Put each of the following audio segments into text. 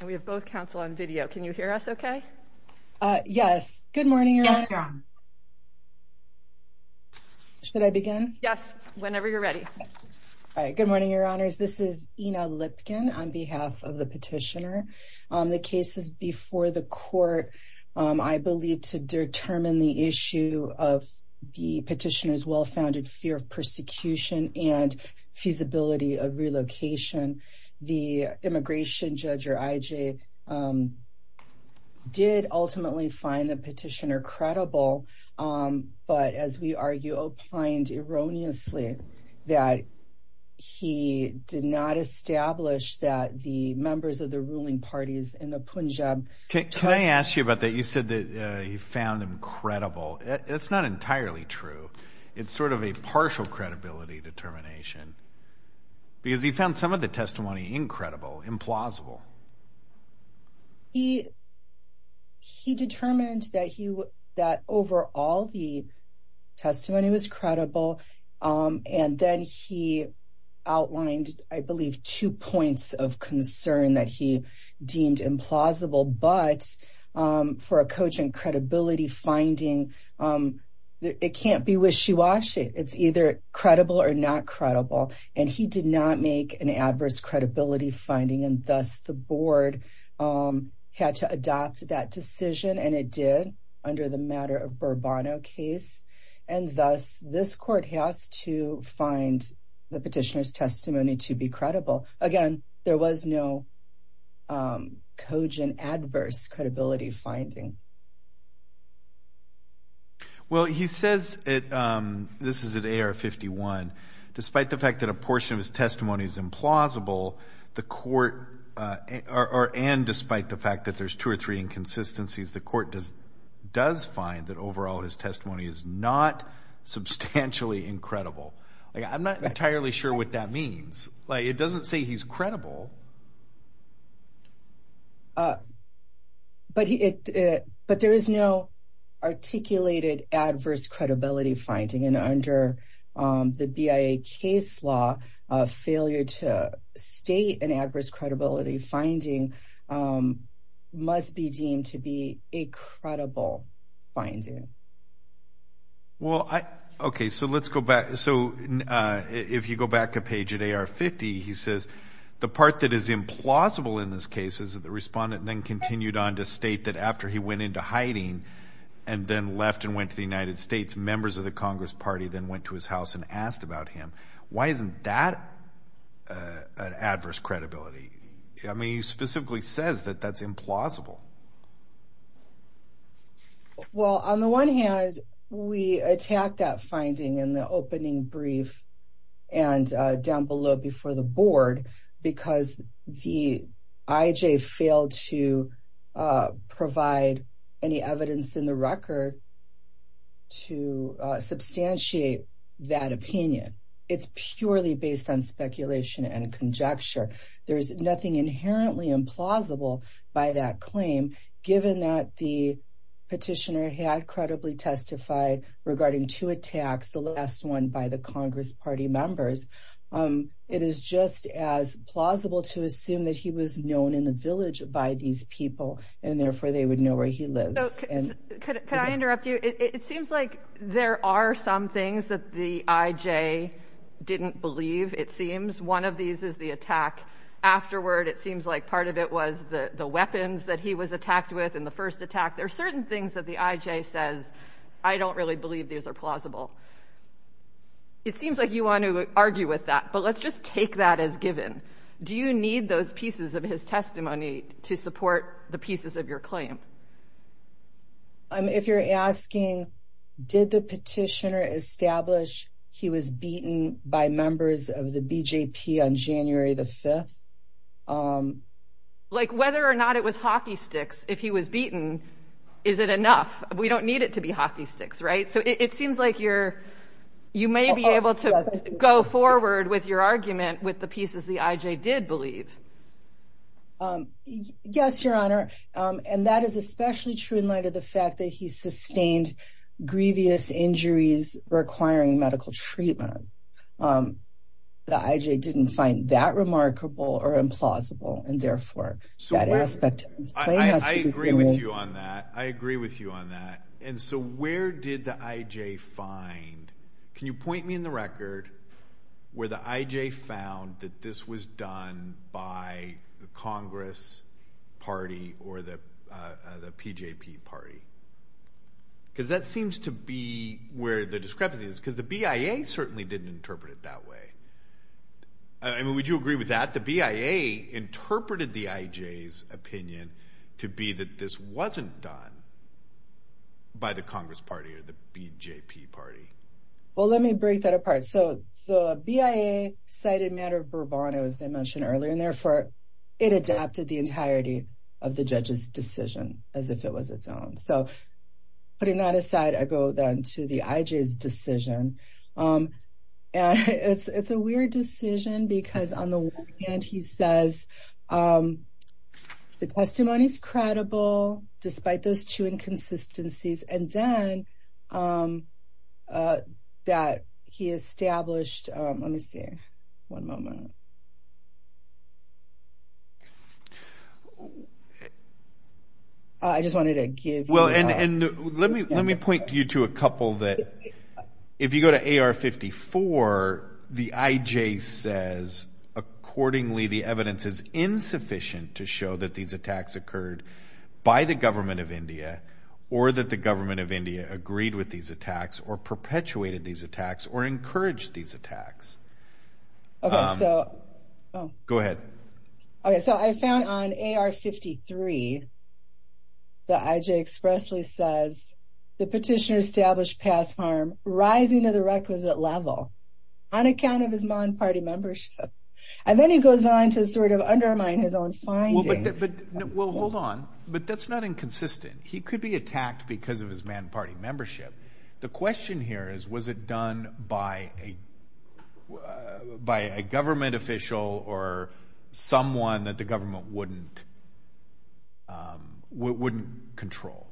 and we have both counsel on video. Can you hear us? Okay? Yes. Good morning, Your Honor. Should I begin? Yes. Whenever you're ready. All right. Good morning, Your Honors. This is, you know, Lipkin on behalf of the petitioner on the cases before the court. I believe to determine the issue of the petitioners well founded fear of persecution and feasibility of relocation. The immigration judge or I. J. Um, did ultimately find the petitioner credible. Um, but as we argue, opined erroneously that he did not establish that the members of the ruling parties in the Punjab. Can I ask you about that? He said that he found him credible. That's not entirely true. It's sort of a partial credibility determination because he found some of the testimony incredible, implausible. He he determined that he that over all the testimony was credible. Um, and then he outlined, I believe, two points of concern that he deemed implausible. But for a coach and credibility finding, um, it can't be wishy washy. It's either credible or not credible, and he did not make an adverse credibility finding. And thus the board, um, had to adopt that decision, and it did under the matter of Burbano case. And thus, this court has to find the petitioners testimony to be credible again. There was no, um, cogent, adverse credibility finding. Well, he says it. Um, this is a day or 51. Despite the fact that a portion of his testimony is implausible, the court are and despite the fact that there's two or three inconsistencies, the court does does find that overall, his testimony is not substantially incredible. I'm not entirely sure what that means. Like, it doesn't say he's credible. Uh, but it but there is no articulated adverse credibility finding. And under, um, the B. I. A. Case law of failure to state an adverse credibility finding, um, must be deemed to be a credible finding. Well, I okay. So let's go back. So if you go back a page today are 50, he says the part that is implausible in this case is that the respondent then continued on to state that after he went into hiding and then left and went to the United States, members of the Congress Party then went to his house and asked about him. Why isn't that adverse credibility? I mean, he specifically says that that's implausible. Well, on the one hand, we attack that finding in the opening brief and down below before the board because the I. J. Failed to provide any evidence in the record to substantiate that opinion. It's purely based on speculation and conjecture. There's nothing inherently implausible by that claim, given that the petitioner had credibly testified regarding two attacks, the last one by the Congress Party members. Um, it is just as plausible to assume that he was known in the village by these people, and therefore they would know where he lives. Could I interrupt you? It seems like there are some things that the I. Leave. It seems one of these is the attack afterward. It seems like part of it was the weapons that he was attacked with in the first attack. There are certain things that the I. J. Says I don't really believe these air plausible. It seems like you want to argue with that, but let's just take that as given. Do you need those pieces of his testimony to support the pieces of your claim? I'm if you're asking, did the petitioner establish he was beaten by members of the B. J. P. On January the 5th. Um, like whether or not it was hockey sticks. If he was beaten, is it enough? We don't need it to be hockey sticks, right? So it seems like you're you may be able to go forward with your argument with the especially true in light of the fact that he sustained grievous injuries requiring medical treatment. Um, the I. J. Didn't find that remarkable or implausible, and therefore that aspect. I agree with you on that. I agree with you on that. And so where did the I. J. Find? Can you point me in the record where the I. J. Found that this was done by Congress party or the P. J. P. Party? Because that seems to be where the discrepancy is because the B. I. A. Certainly didn't interpret it that way. I mean, would you agree with that? The B. I. A. Interpreted the I. J. S. Opinion to be that this wasn't done by the Congress party or the P. J. P. Party? Well, let me break that apart. So the B. I. A. Cited matter of bravado, as I mentioned earlier, and therefore it adapted the entirety of the judge's decision as if it was its own. So putting that aside, I go then to the I. J. S. Decision. Um, it's a weird decision because on the one hand, he says, um, the testimony is credible, despite those two inconsistencies. And then, um, uh, that he established. Um, let me see. One moment. I just wanted to give well, and let me let me point you to a couple that if you go to A. R. 54, the I. J. Says accordingly, the evidence is insufficient to show that these attacks occurred by the government of India or that the government of India agreed with these attacks or perpetuated these attacks or encouraged these attacks. Okay, so go ahead. Okay, so I found on A. R. 53. The I. J. Expressly says the petitioner established past harm rising to the requisite level on account of his undermining his own findings. Well, hold on. But that's not inconsistent. He could be attacked because of his man party membership. The question here is, was it done by a by a government official or someone that the government wouldn't wouldn't control?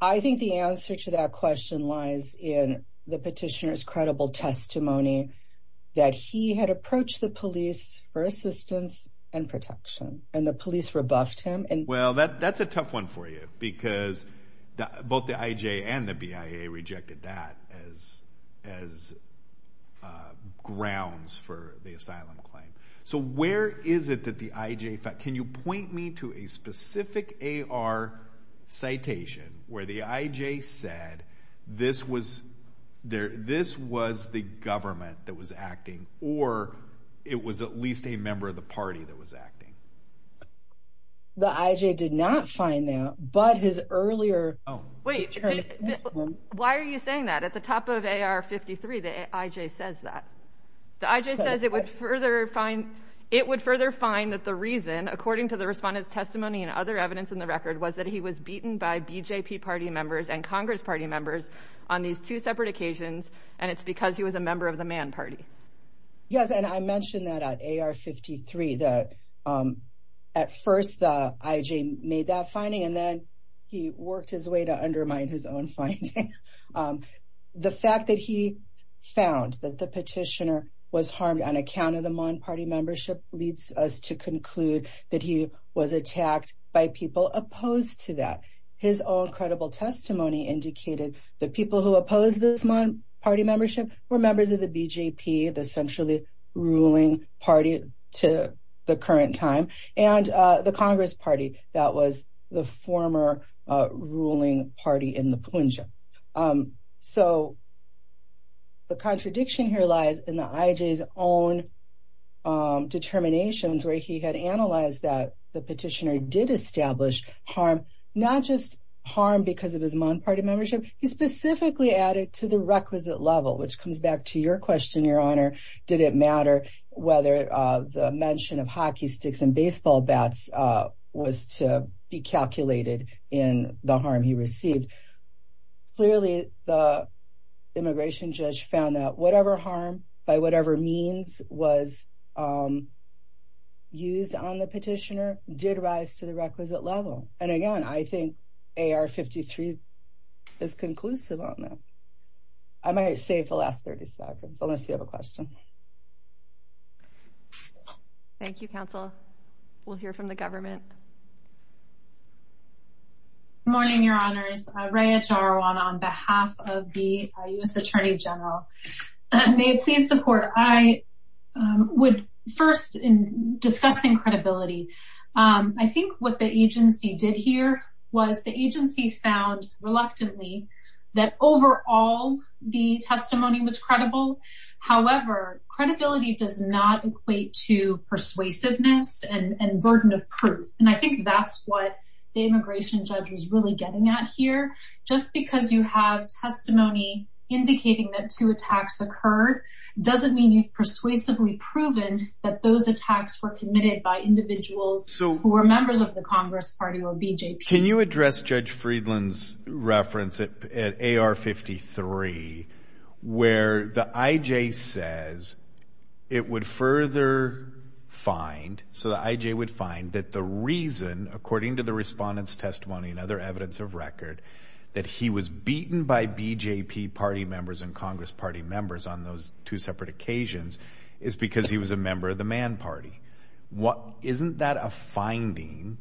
I think the answer to that question lies in the petitioner's credible testimony that he had approached the police for assistance and protection, and the police rebuffed him. And well, that that's a tough one for you, because both the I. J. And the B. I. A. Rejected that as as grounds for the asylum claim. So where is it that the I. J. Can you point me to a specific A. R. Citation where the I. J. Said this was there? This was the government that was acting, or it was at least a member of the party that was acting. The I. J. Did not find that, but his earlier. Oh, wait. Why are you saying that at the top of A. R. 53? The I. J. Says that the I. J. Says it would further find it would further find that the reason, according to the respondent's testimony and other evidence in the record, was that he was beaten by B. J. P. Party members and Congress Party members on these two separate occasions, and it's because he was a member of the man party. Yes, and I mentioned that at A. R. 53 that, um, at first, the I. J. Made that finding, and then he worked his way to undermine his own fight. Um, the fact that he found that the petitioner was harmed on account of the Mon party membership leads us to conclude that he was attacked by people opposed to that. His own credible testimony indicated that people who opposed this month party membership were members of the B. J. P. The centrally ruling party to the current time and the Congress Party. That was the former ruling party in the plunger. Um, so the contradiction here lies in the I. J.'s own, um, determinations where he had analyzed that the petitioner did establish harm, not just harm because of his Mon party membership. He specifically added to the requisite level, which comes back to your question, Your Honor. Did it matter whether the mention of hockey sticks and baseball bats was to be calculated in the harm he received? Clearly, the immigration judge found that whatever harm by whatever means was, um, used on the petitioner did rise to the is conclusive on that. I might save the last 30 seconds. Unless you have a question. Thank you, Counsel. We'll hear from the government morning, Your Honor's ranch are on on behalf of the U. S. Attorney General. May it please the court. I would first in discussing credibility. Um, I think what the agency did here was the agency found reluctantly that overall, the testimony was credible. However, credibility does not equate to persuasiveness and burden of proof. And I think that's what the immigration judge was really getting at here. Just because you have testimony indicating that two attacks occurred doesn't mean you've persuasively proven that those the Congress party will be. Can you address Judge Friedland's reference at a R 53 where the I J says it would further find so that I J would find that the reason, according to the respondents testimony and other evidence of record that he was beaten by BJP party members in Congress party members on those two separate occasions is because he was a member of the man party. What isn't that a finding?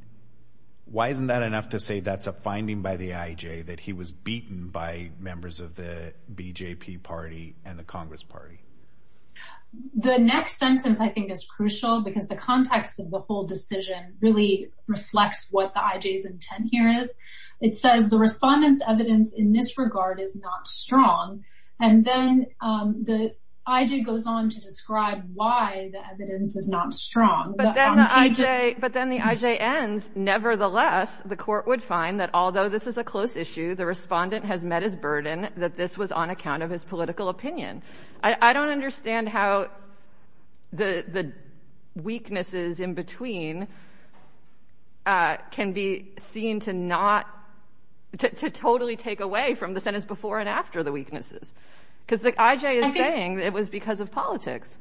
Why isn't that enough to say that's a finding by the I J that he was beaten by members of the BJP party and the Congress party? The next sentence, I think, is crucial because the context of the whole decision really reflects what the I J's intent here is. It says the respondents evidence in this regard is not strong. And then the I J goes on to strong. But then the I J. But then the I J ends. Nevertheless, the court would find that although this is a close issue, the respondent has met his burden that this was on account of his political opinion. I don't understand how the weaknesses in between can be seen to not to totally take away from the sentence before and after the weaknesses because the I J is saying it was because of politics.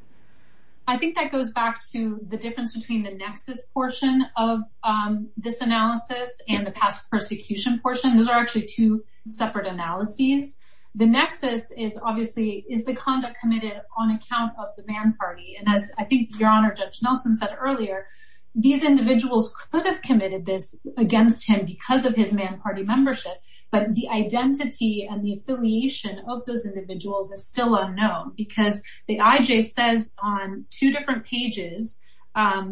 I think that back to the difference between the nexus portion of this analysis and the past persecution portion. Those are actually two separate analyses. The nexus is obviously is the conduct committed on account of the man party. And as I think your honor, Judge Nelson said earlier, these individuals could have committed this against him because of his man party membership. But the identity and the affiliation of those individuals is still unknown because the pages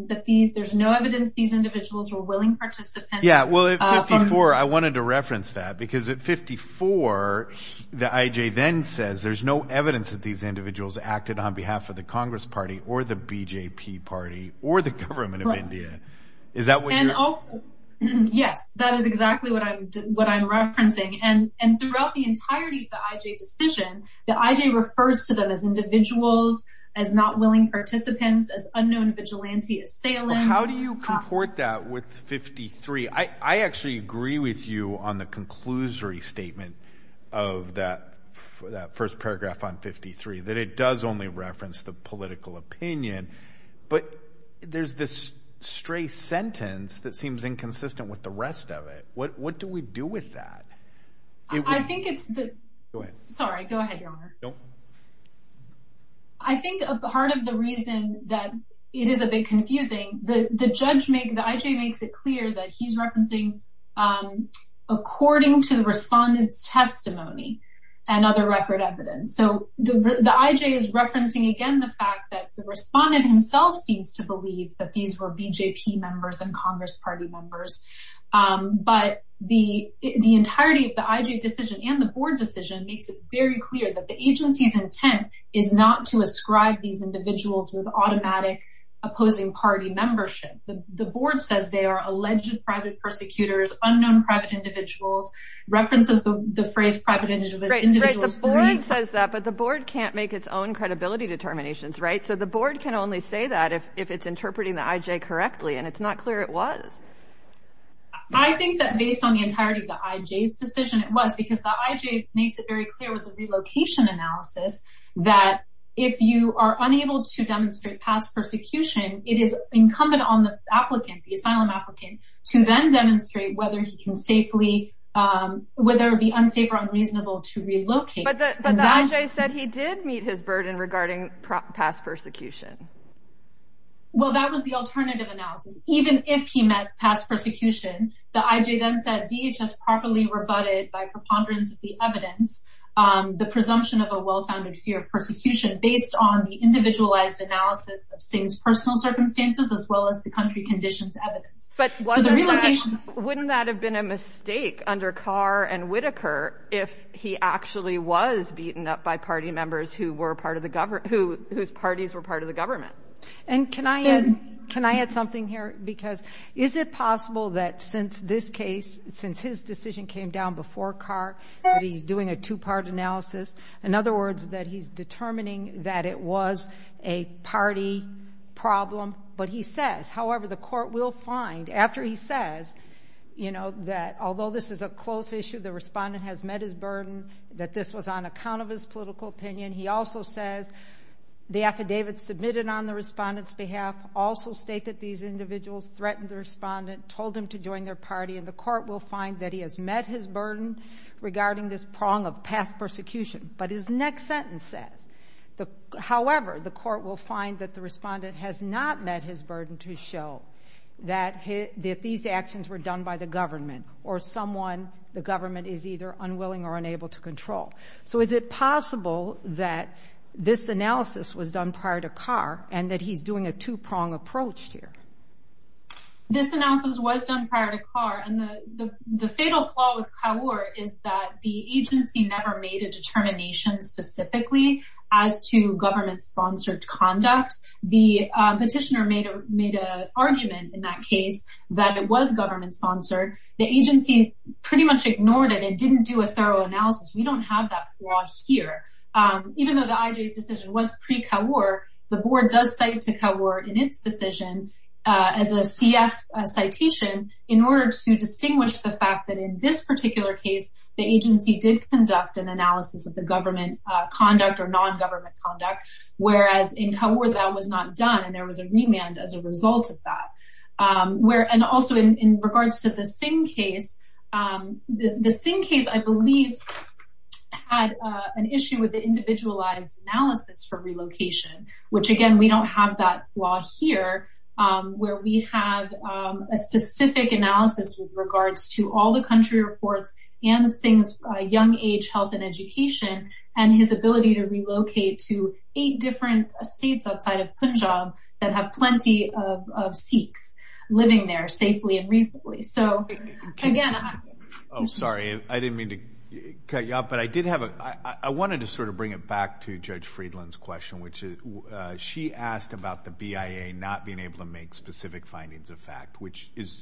that these there's no evidence. These individuals were willing participants. Yeah, well, it's 54. I wanted to reference that because at 54 the I J then says there's no evidence that these individuals acted on behalf of the Congress party or the BJP party or the government of India. Is that what? Yes, that is exactly what I'm what I'm referencing. And and throughout the entirety of the I J decision, the I J refers to them as individuals as not willing participants, as unknown vigilante assailant. How do you comport that with 53? I actually agree with you on the conclusory statement of that for that first paragraph on 53 that it does only reference the political opinion. But there's this stray sentence that seems inconsistent with the rest of it. What do we do with that? I think it's the sorry. Go ahead, Your reason that it is a bit confusing. The judge make the I J makes it clear that he's referencing, um, according to the respondents testimony and other record evidence. So the I J is referencing again the fact that the respondent himself seems to believe that these were BJP members and Congress party members. But the entirety of the I J decision and the board decision makes very clear that the agency's intent is not to ascribe these individuals with automatic opposing party membership. The board says they are alleged private persecutors, unknown private individuals, references the phrase private individual individuals. The board says that, but the board can't make its own credibility determinations, right? So the board can only say that if it's interpreting the I J correctly, and it's not clear it was. I think that based on the entirety of the I J's decision, it was because the I J makes it very clear with the relocation analysis that if you are unable to demonstrate past persecution, it is incumbent on the applicant, the asylum applicant to then demonstrate whether he can safely, um, whether it be unsafe or unreasonable to relocate. But the I J said he did meet his burden regarding past persecution. Well, that was the alternative analysis. Even if he met past persecution, the I J's decision was based on the presumption of a well founded fear of persecution based on the individualized analysis of Sting's personal circumstances, as well as the country conditions evidence. But wouldn't that have been a mistake under Carr and Whitaker if he actually was beaten up by party members who were part of the government, whose parties were part of the government? And can I add something here? Because is it possible that since this case, since his decision came down before Carr, that he's doing a two part analysis? In other words, that he's determining that it was a party problem. But he says, however, the court will find after he says, you know, that although this is a close issue, the respondent has met his burden, that this was on account of his political opinion. He also says the affidavit submitted on the respondent's behalf also state that these individuals threatened the respondent, told him to join their party, and the court will find that he has met his burden regarding this prong of past persecution. But his next sentence says, however, the court will find that the respondent has not met his burden to show that these actions were done by the government or someone the government is either unwilling or unable to control. So is it possible that this analysis was done prior to Carr and that he's doing a two prong approach here? This analysis was done prior to Carr. And the fatal flaw with Kawor is that the agency never made a determination specifically as to government sponsored conduct. The petitioner made a made a argument in that case that it was government sponsored. The agency pretty much ignored it and didn't do a thorough analysis. We don't have that flaw here. Even though the IJ's decision was pre-Kawor, the board does cite to Kawor in its decision as a PDF citation in order to distinguish the fact that in this particular case, the agency did conduct an analysis of the government conduct or nongovernment conduct, whereas in Kawor that was not done and there was a remand as a result of that. And also in regards to the Singh case, the Singh case, I believe, had an issue with the individualized analysis for relocation, which again, we don't have that flaw here, where we have a specific analysis with regards to all the country reports and Singh's young age health and education and his ability to relocate to eight different states outside of Punjab that have plenty of Sikhs living there safely and reasonably. So again, Oh, sorry, I didn't mean to cut you off. But I did have a I wanted to sort of bring it back to Judge Friedland's question, which is she asked about the BIA not being able to make specific findings of fact, which is,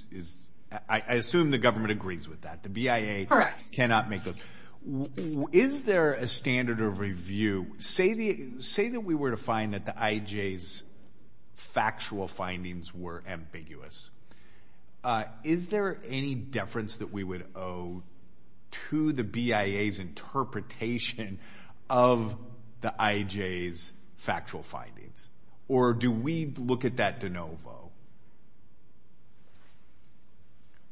I assume the government agrees with that. The BIA cannot make those. Is there a standard of review? Say that we were to find that the IJ's factual findings were ambiguous. Is there any deference that we would owe to the BIA's interpretation of the IJ's factual findings? Or do we look at that de novo?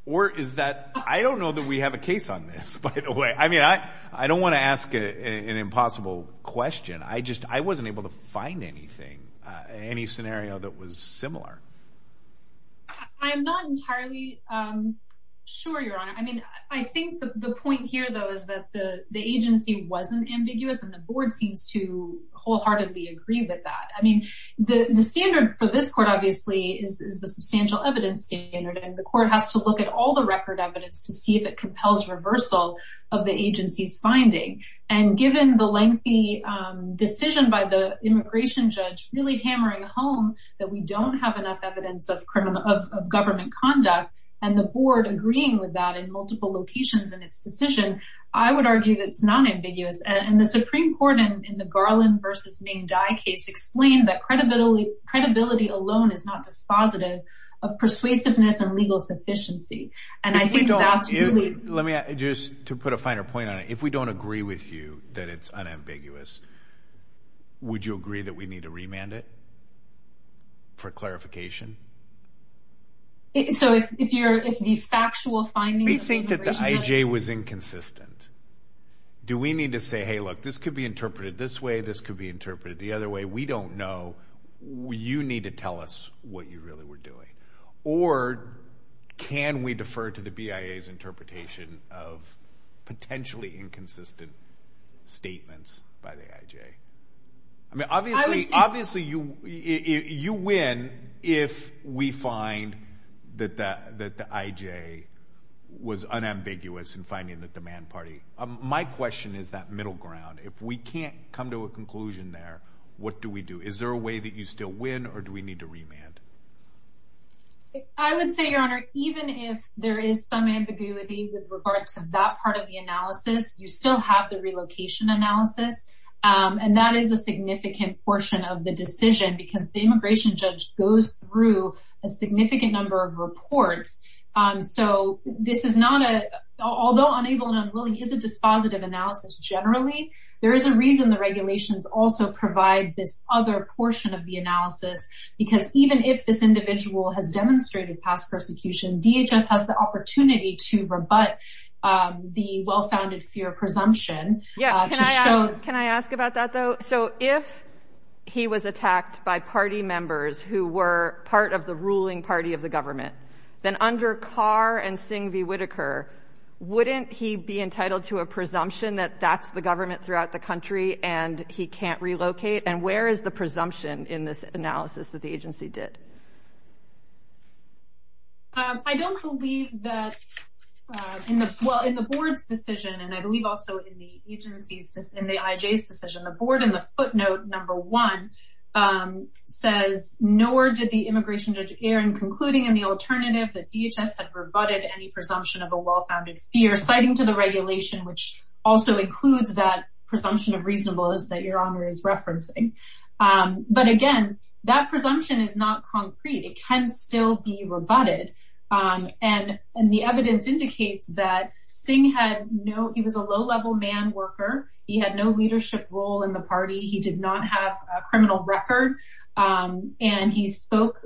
Or is that? I don't know that we have a case on this, by the way. I mean, I don't want to ask an impossible question. I just I wasn't able to find anything, any scenario that was similar. I'm not entirely sure, Your Honor. I mean, I think the point here, though, is that the agency wasn't ambiguous, and the board seems to wholeheartedly agree with that. I mean, the standard for this court, obviously, is the substantial evidence standard. And the court has to look at all the record evidence to see if it compels reversal of the agency's finding. And given the lengthy decision by the immigration judge really hammering home that we don't have enough evidence of government conduct, and the board agreeing with that in multiple locations in its decision, I would argue that it's nonambiguous. And the Supreme Court in the Garland versus Ming Dai case explained that credibility alone is not dispositive of persuasiveness and legal sufficiency. And I think that's really... Let me, just to put a finer point on it, if we don't agree with you that it's unambiguous, would you agree that we need to remand it for clarification? So if the factual findings of the immigration judge... We think that the IJ was inconsistent. Do we need to say, Hey, look, this could be interpreted this way, this could be interpreted the other way. We don't know. You need to tell us what you really were doing. Or can we defer to the BIA's interpretation of potentially inconsistent statements by the IJ? I mean, obviously you win if we find that the IJ was unambiguous in finding that the man party... My question is that middle ground. If we can't come to a conclusion there, what do we do? Is there a way that you still win, or do we need to remand? I would say, Your Honor, even if there is some ambiguity with regard to that part of the analysis, you still have the relocation analysis, and that is a significant portion of the decision because the immigration judge goes through a significant number of reports. So this is not a... Although unable and unwilling is a dispositive analysis generally, there is a reason the regulations also provide this other portion of the analysis because even if this individual has demonstrated past persecution, DHS has the opportunity to rebut the well founded fear presumption. Yeah. Can I ask about that though? So if he was attacked by party members who were part of the ruling party of the government, then under Carr and Singh v. Whitaker, wouldn't he be entitled to a presumption that that's the government throughout the country and he can't relocate? And where is the presumption in this analysis that the agency did? I don't believe that... Well, in the board's decision, and I believe also in the agency's, in the IJ's decision, the board in the footnote number one says, nor did the immigration judge Aaron concluding in the alternative that DHS had rebutted any presumption of a well founded fear citing to the regulation, which also includes that presumption of reasonableness that your honor is referencing. But again, that presumption is not concrete, it can still be rebutted. And the evidence indicates that Singh had no... A man worker, he had no leadership role in the party, he did not have a criminal record, and he spoke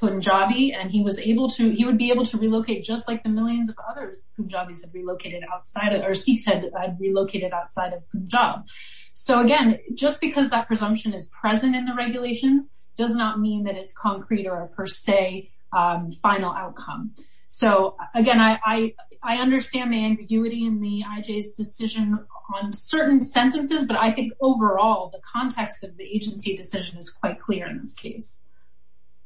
Punjabi and he was able to... He would be able to relocate just like the millions of others Punjabis had relocated outside of... Or Sikhs had relocated outside of Punjab. So again, just because that presumption is present in the regulations does not mean that it's concrete or a per se final outcome. So again, I understand the ambiguity in the IJ's decision on certain sentences, but I think overall, the context of the agency decision is quite clear in this case.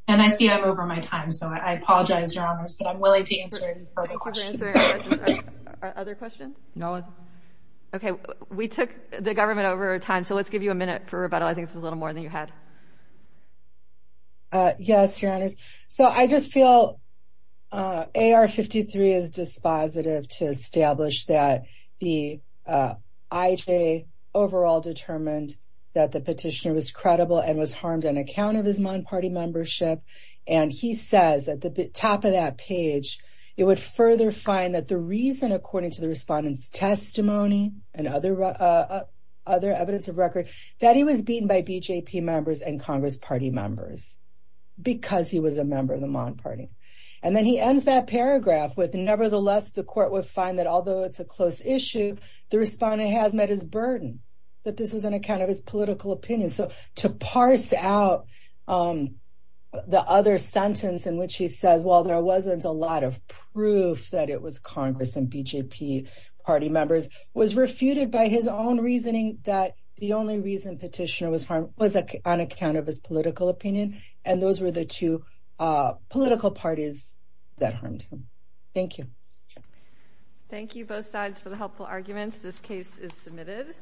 And I see I'm over my time, so I apologize, your honors, but I'm willing to answer any further questions. Thank you for answering our questions. Other questions? No one. Okay, we took the government over time, so let's give you a minute for rebuttal. I think it's a little more than you had. Yes, your honors. So I just feel AR 53 is dispositive to establish that the IJ overall determined that the petitioner was credible and was harmed on account of his non party membership. And he says at the top of that page, it would further find that the reason according to the respondent's testimony and other evidence of record, that he was beaten by BJP members and Congress party members because he was a member of the Mon party. And then he ends that paragraph with, nevertheless, the court would find that although it's a close issue, the respondent has met his burden, that this was an account of his political opinion. So to parse out the other sentence in which he says, well, there wasn't a lot of proof that it was Congress and BJP party members, was refuted by his own reasoning that the only reason petitioner was harmed was on account of his political opinion. And those were the two political parties that harmed him. Thank you. Thank you both sides for the helpful arguments. This case is submitted.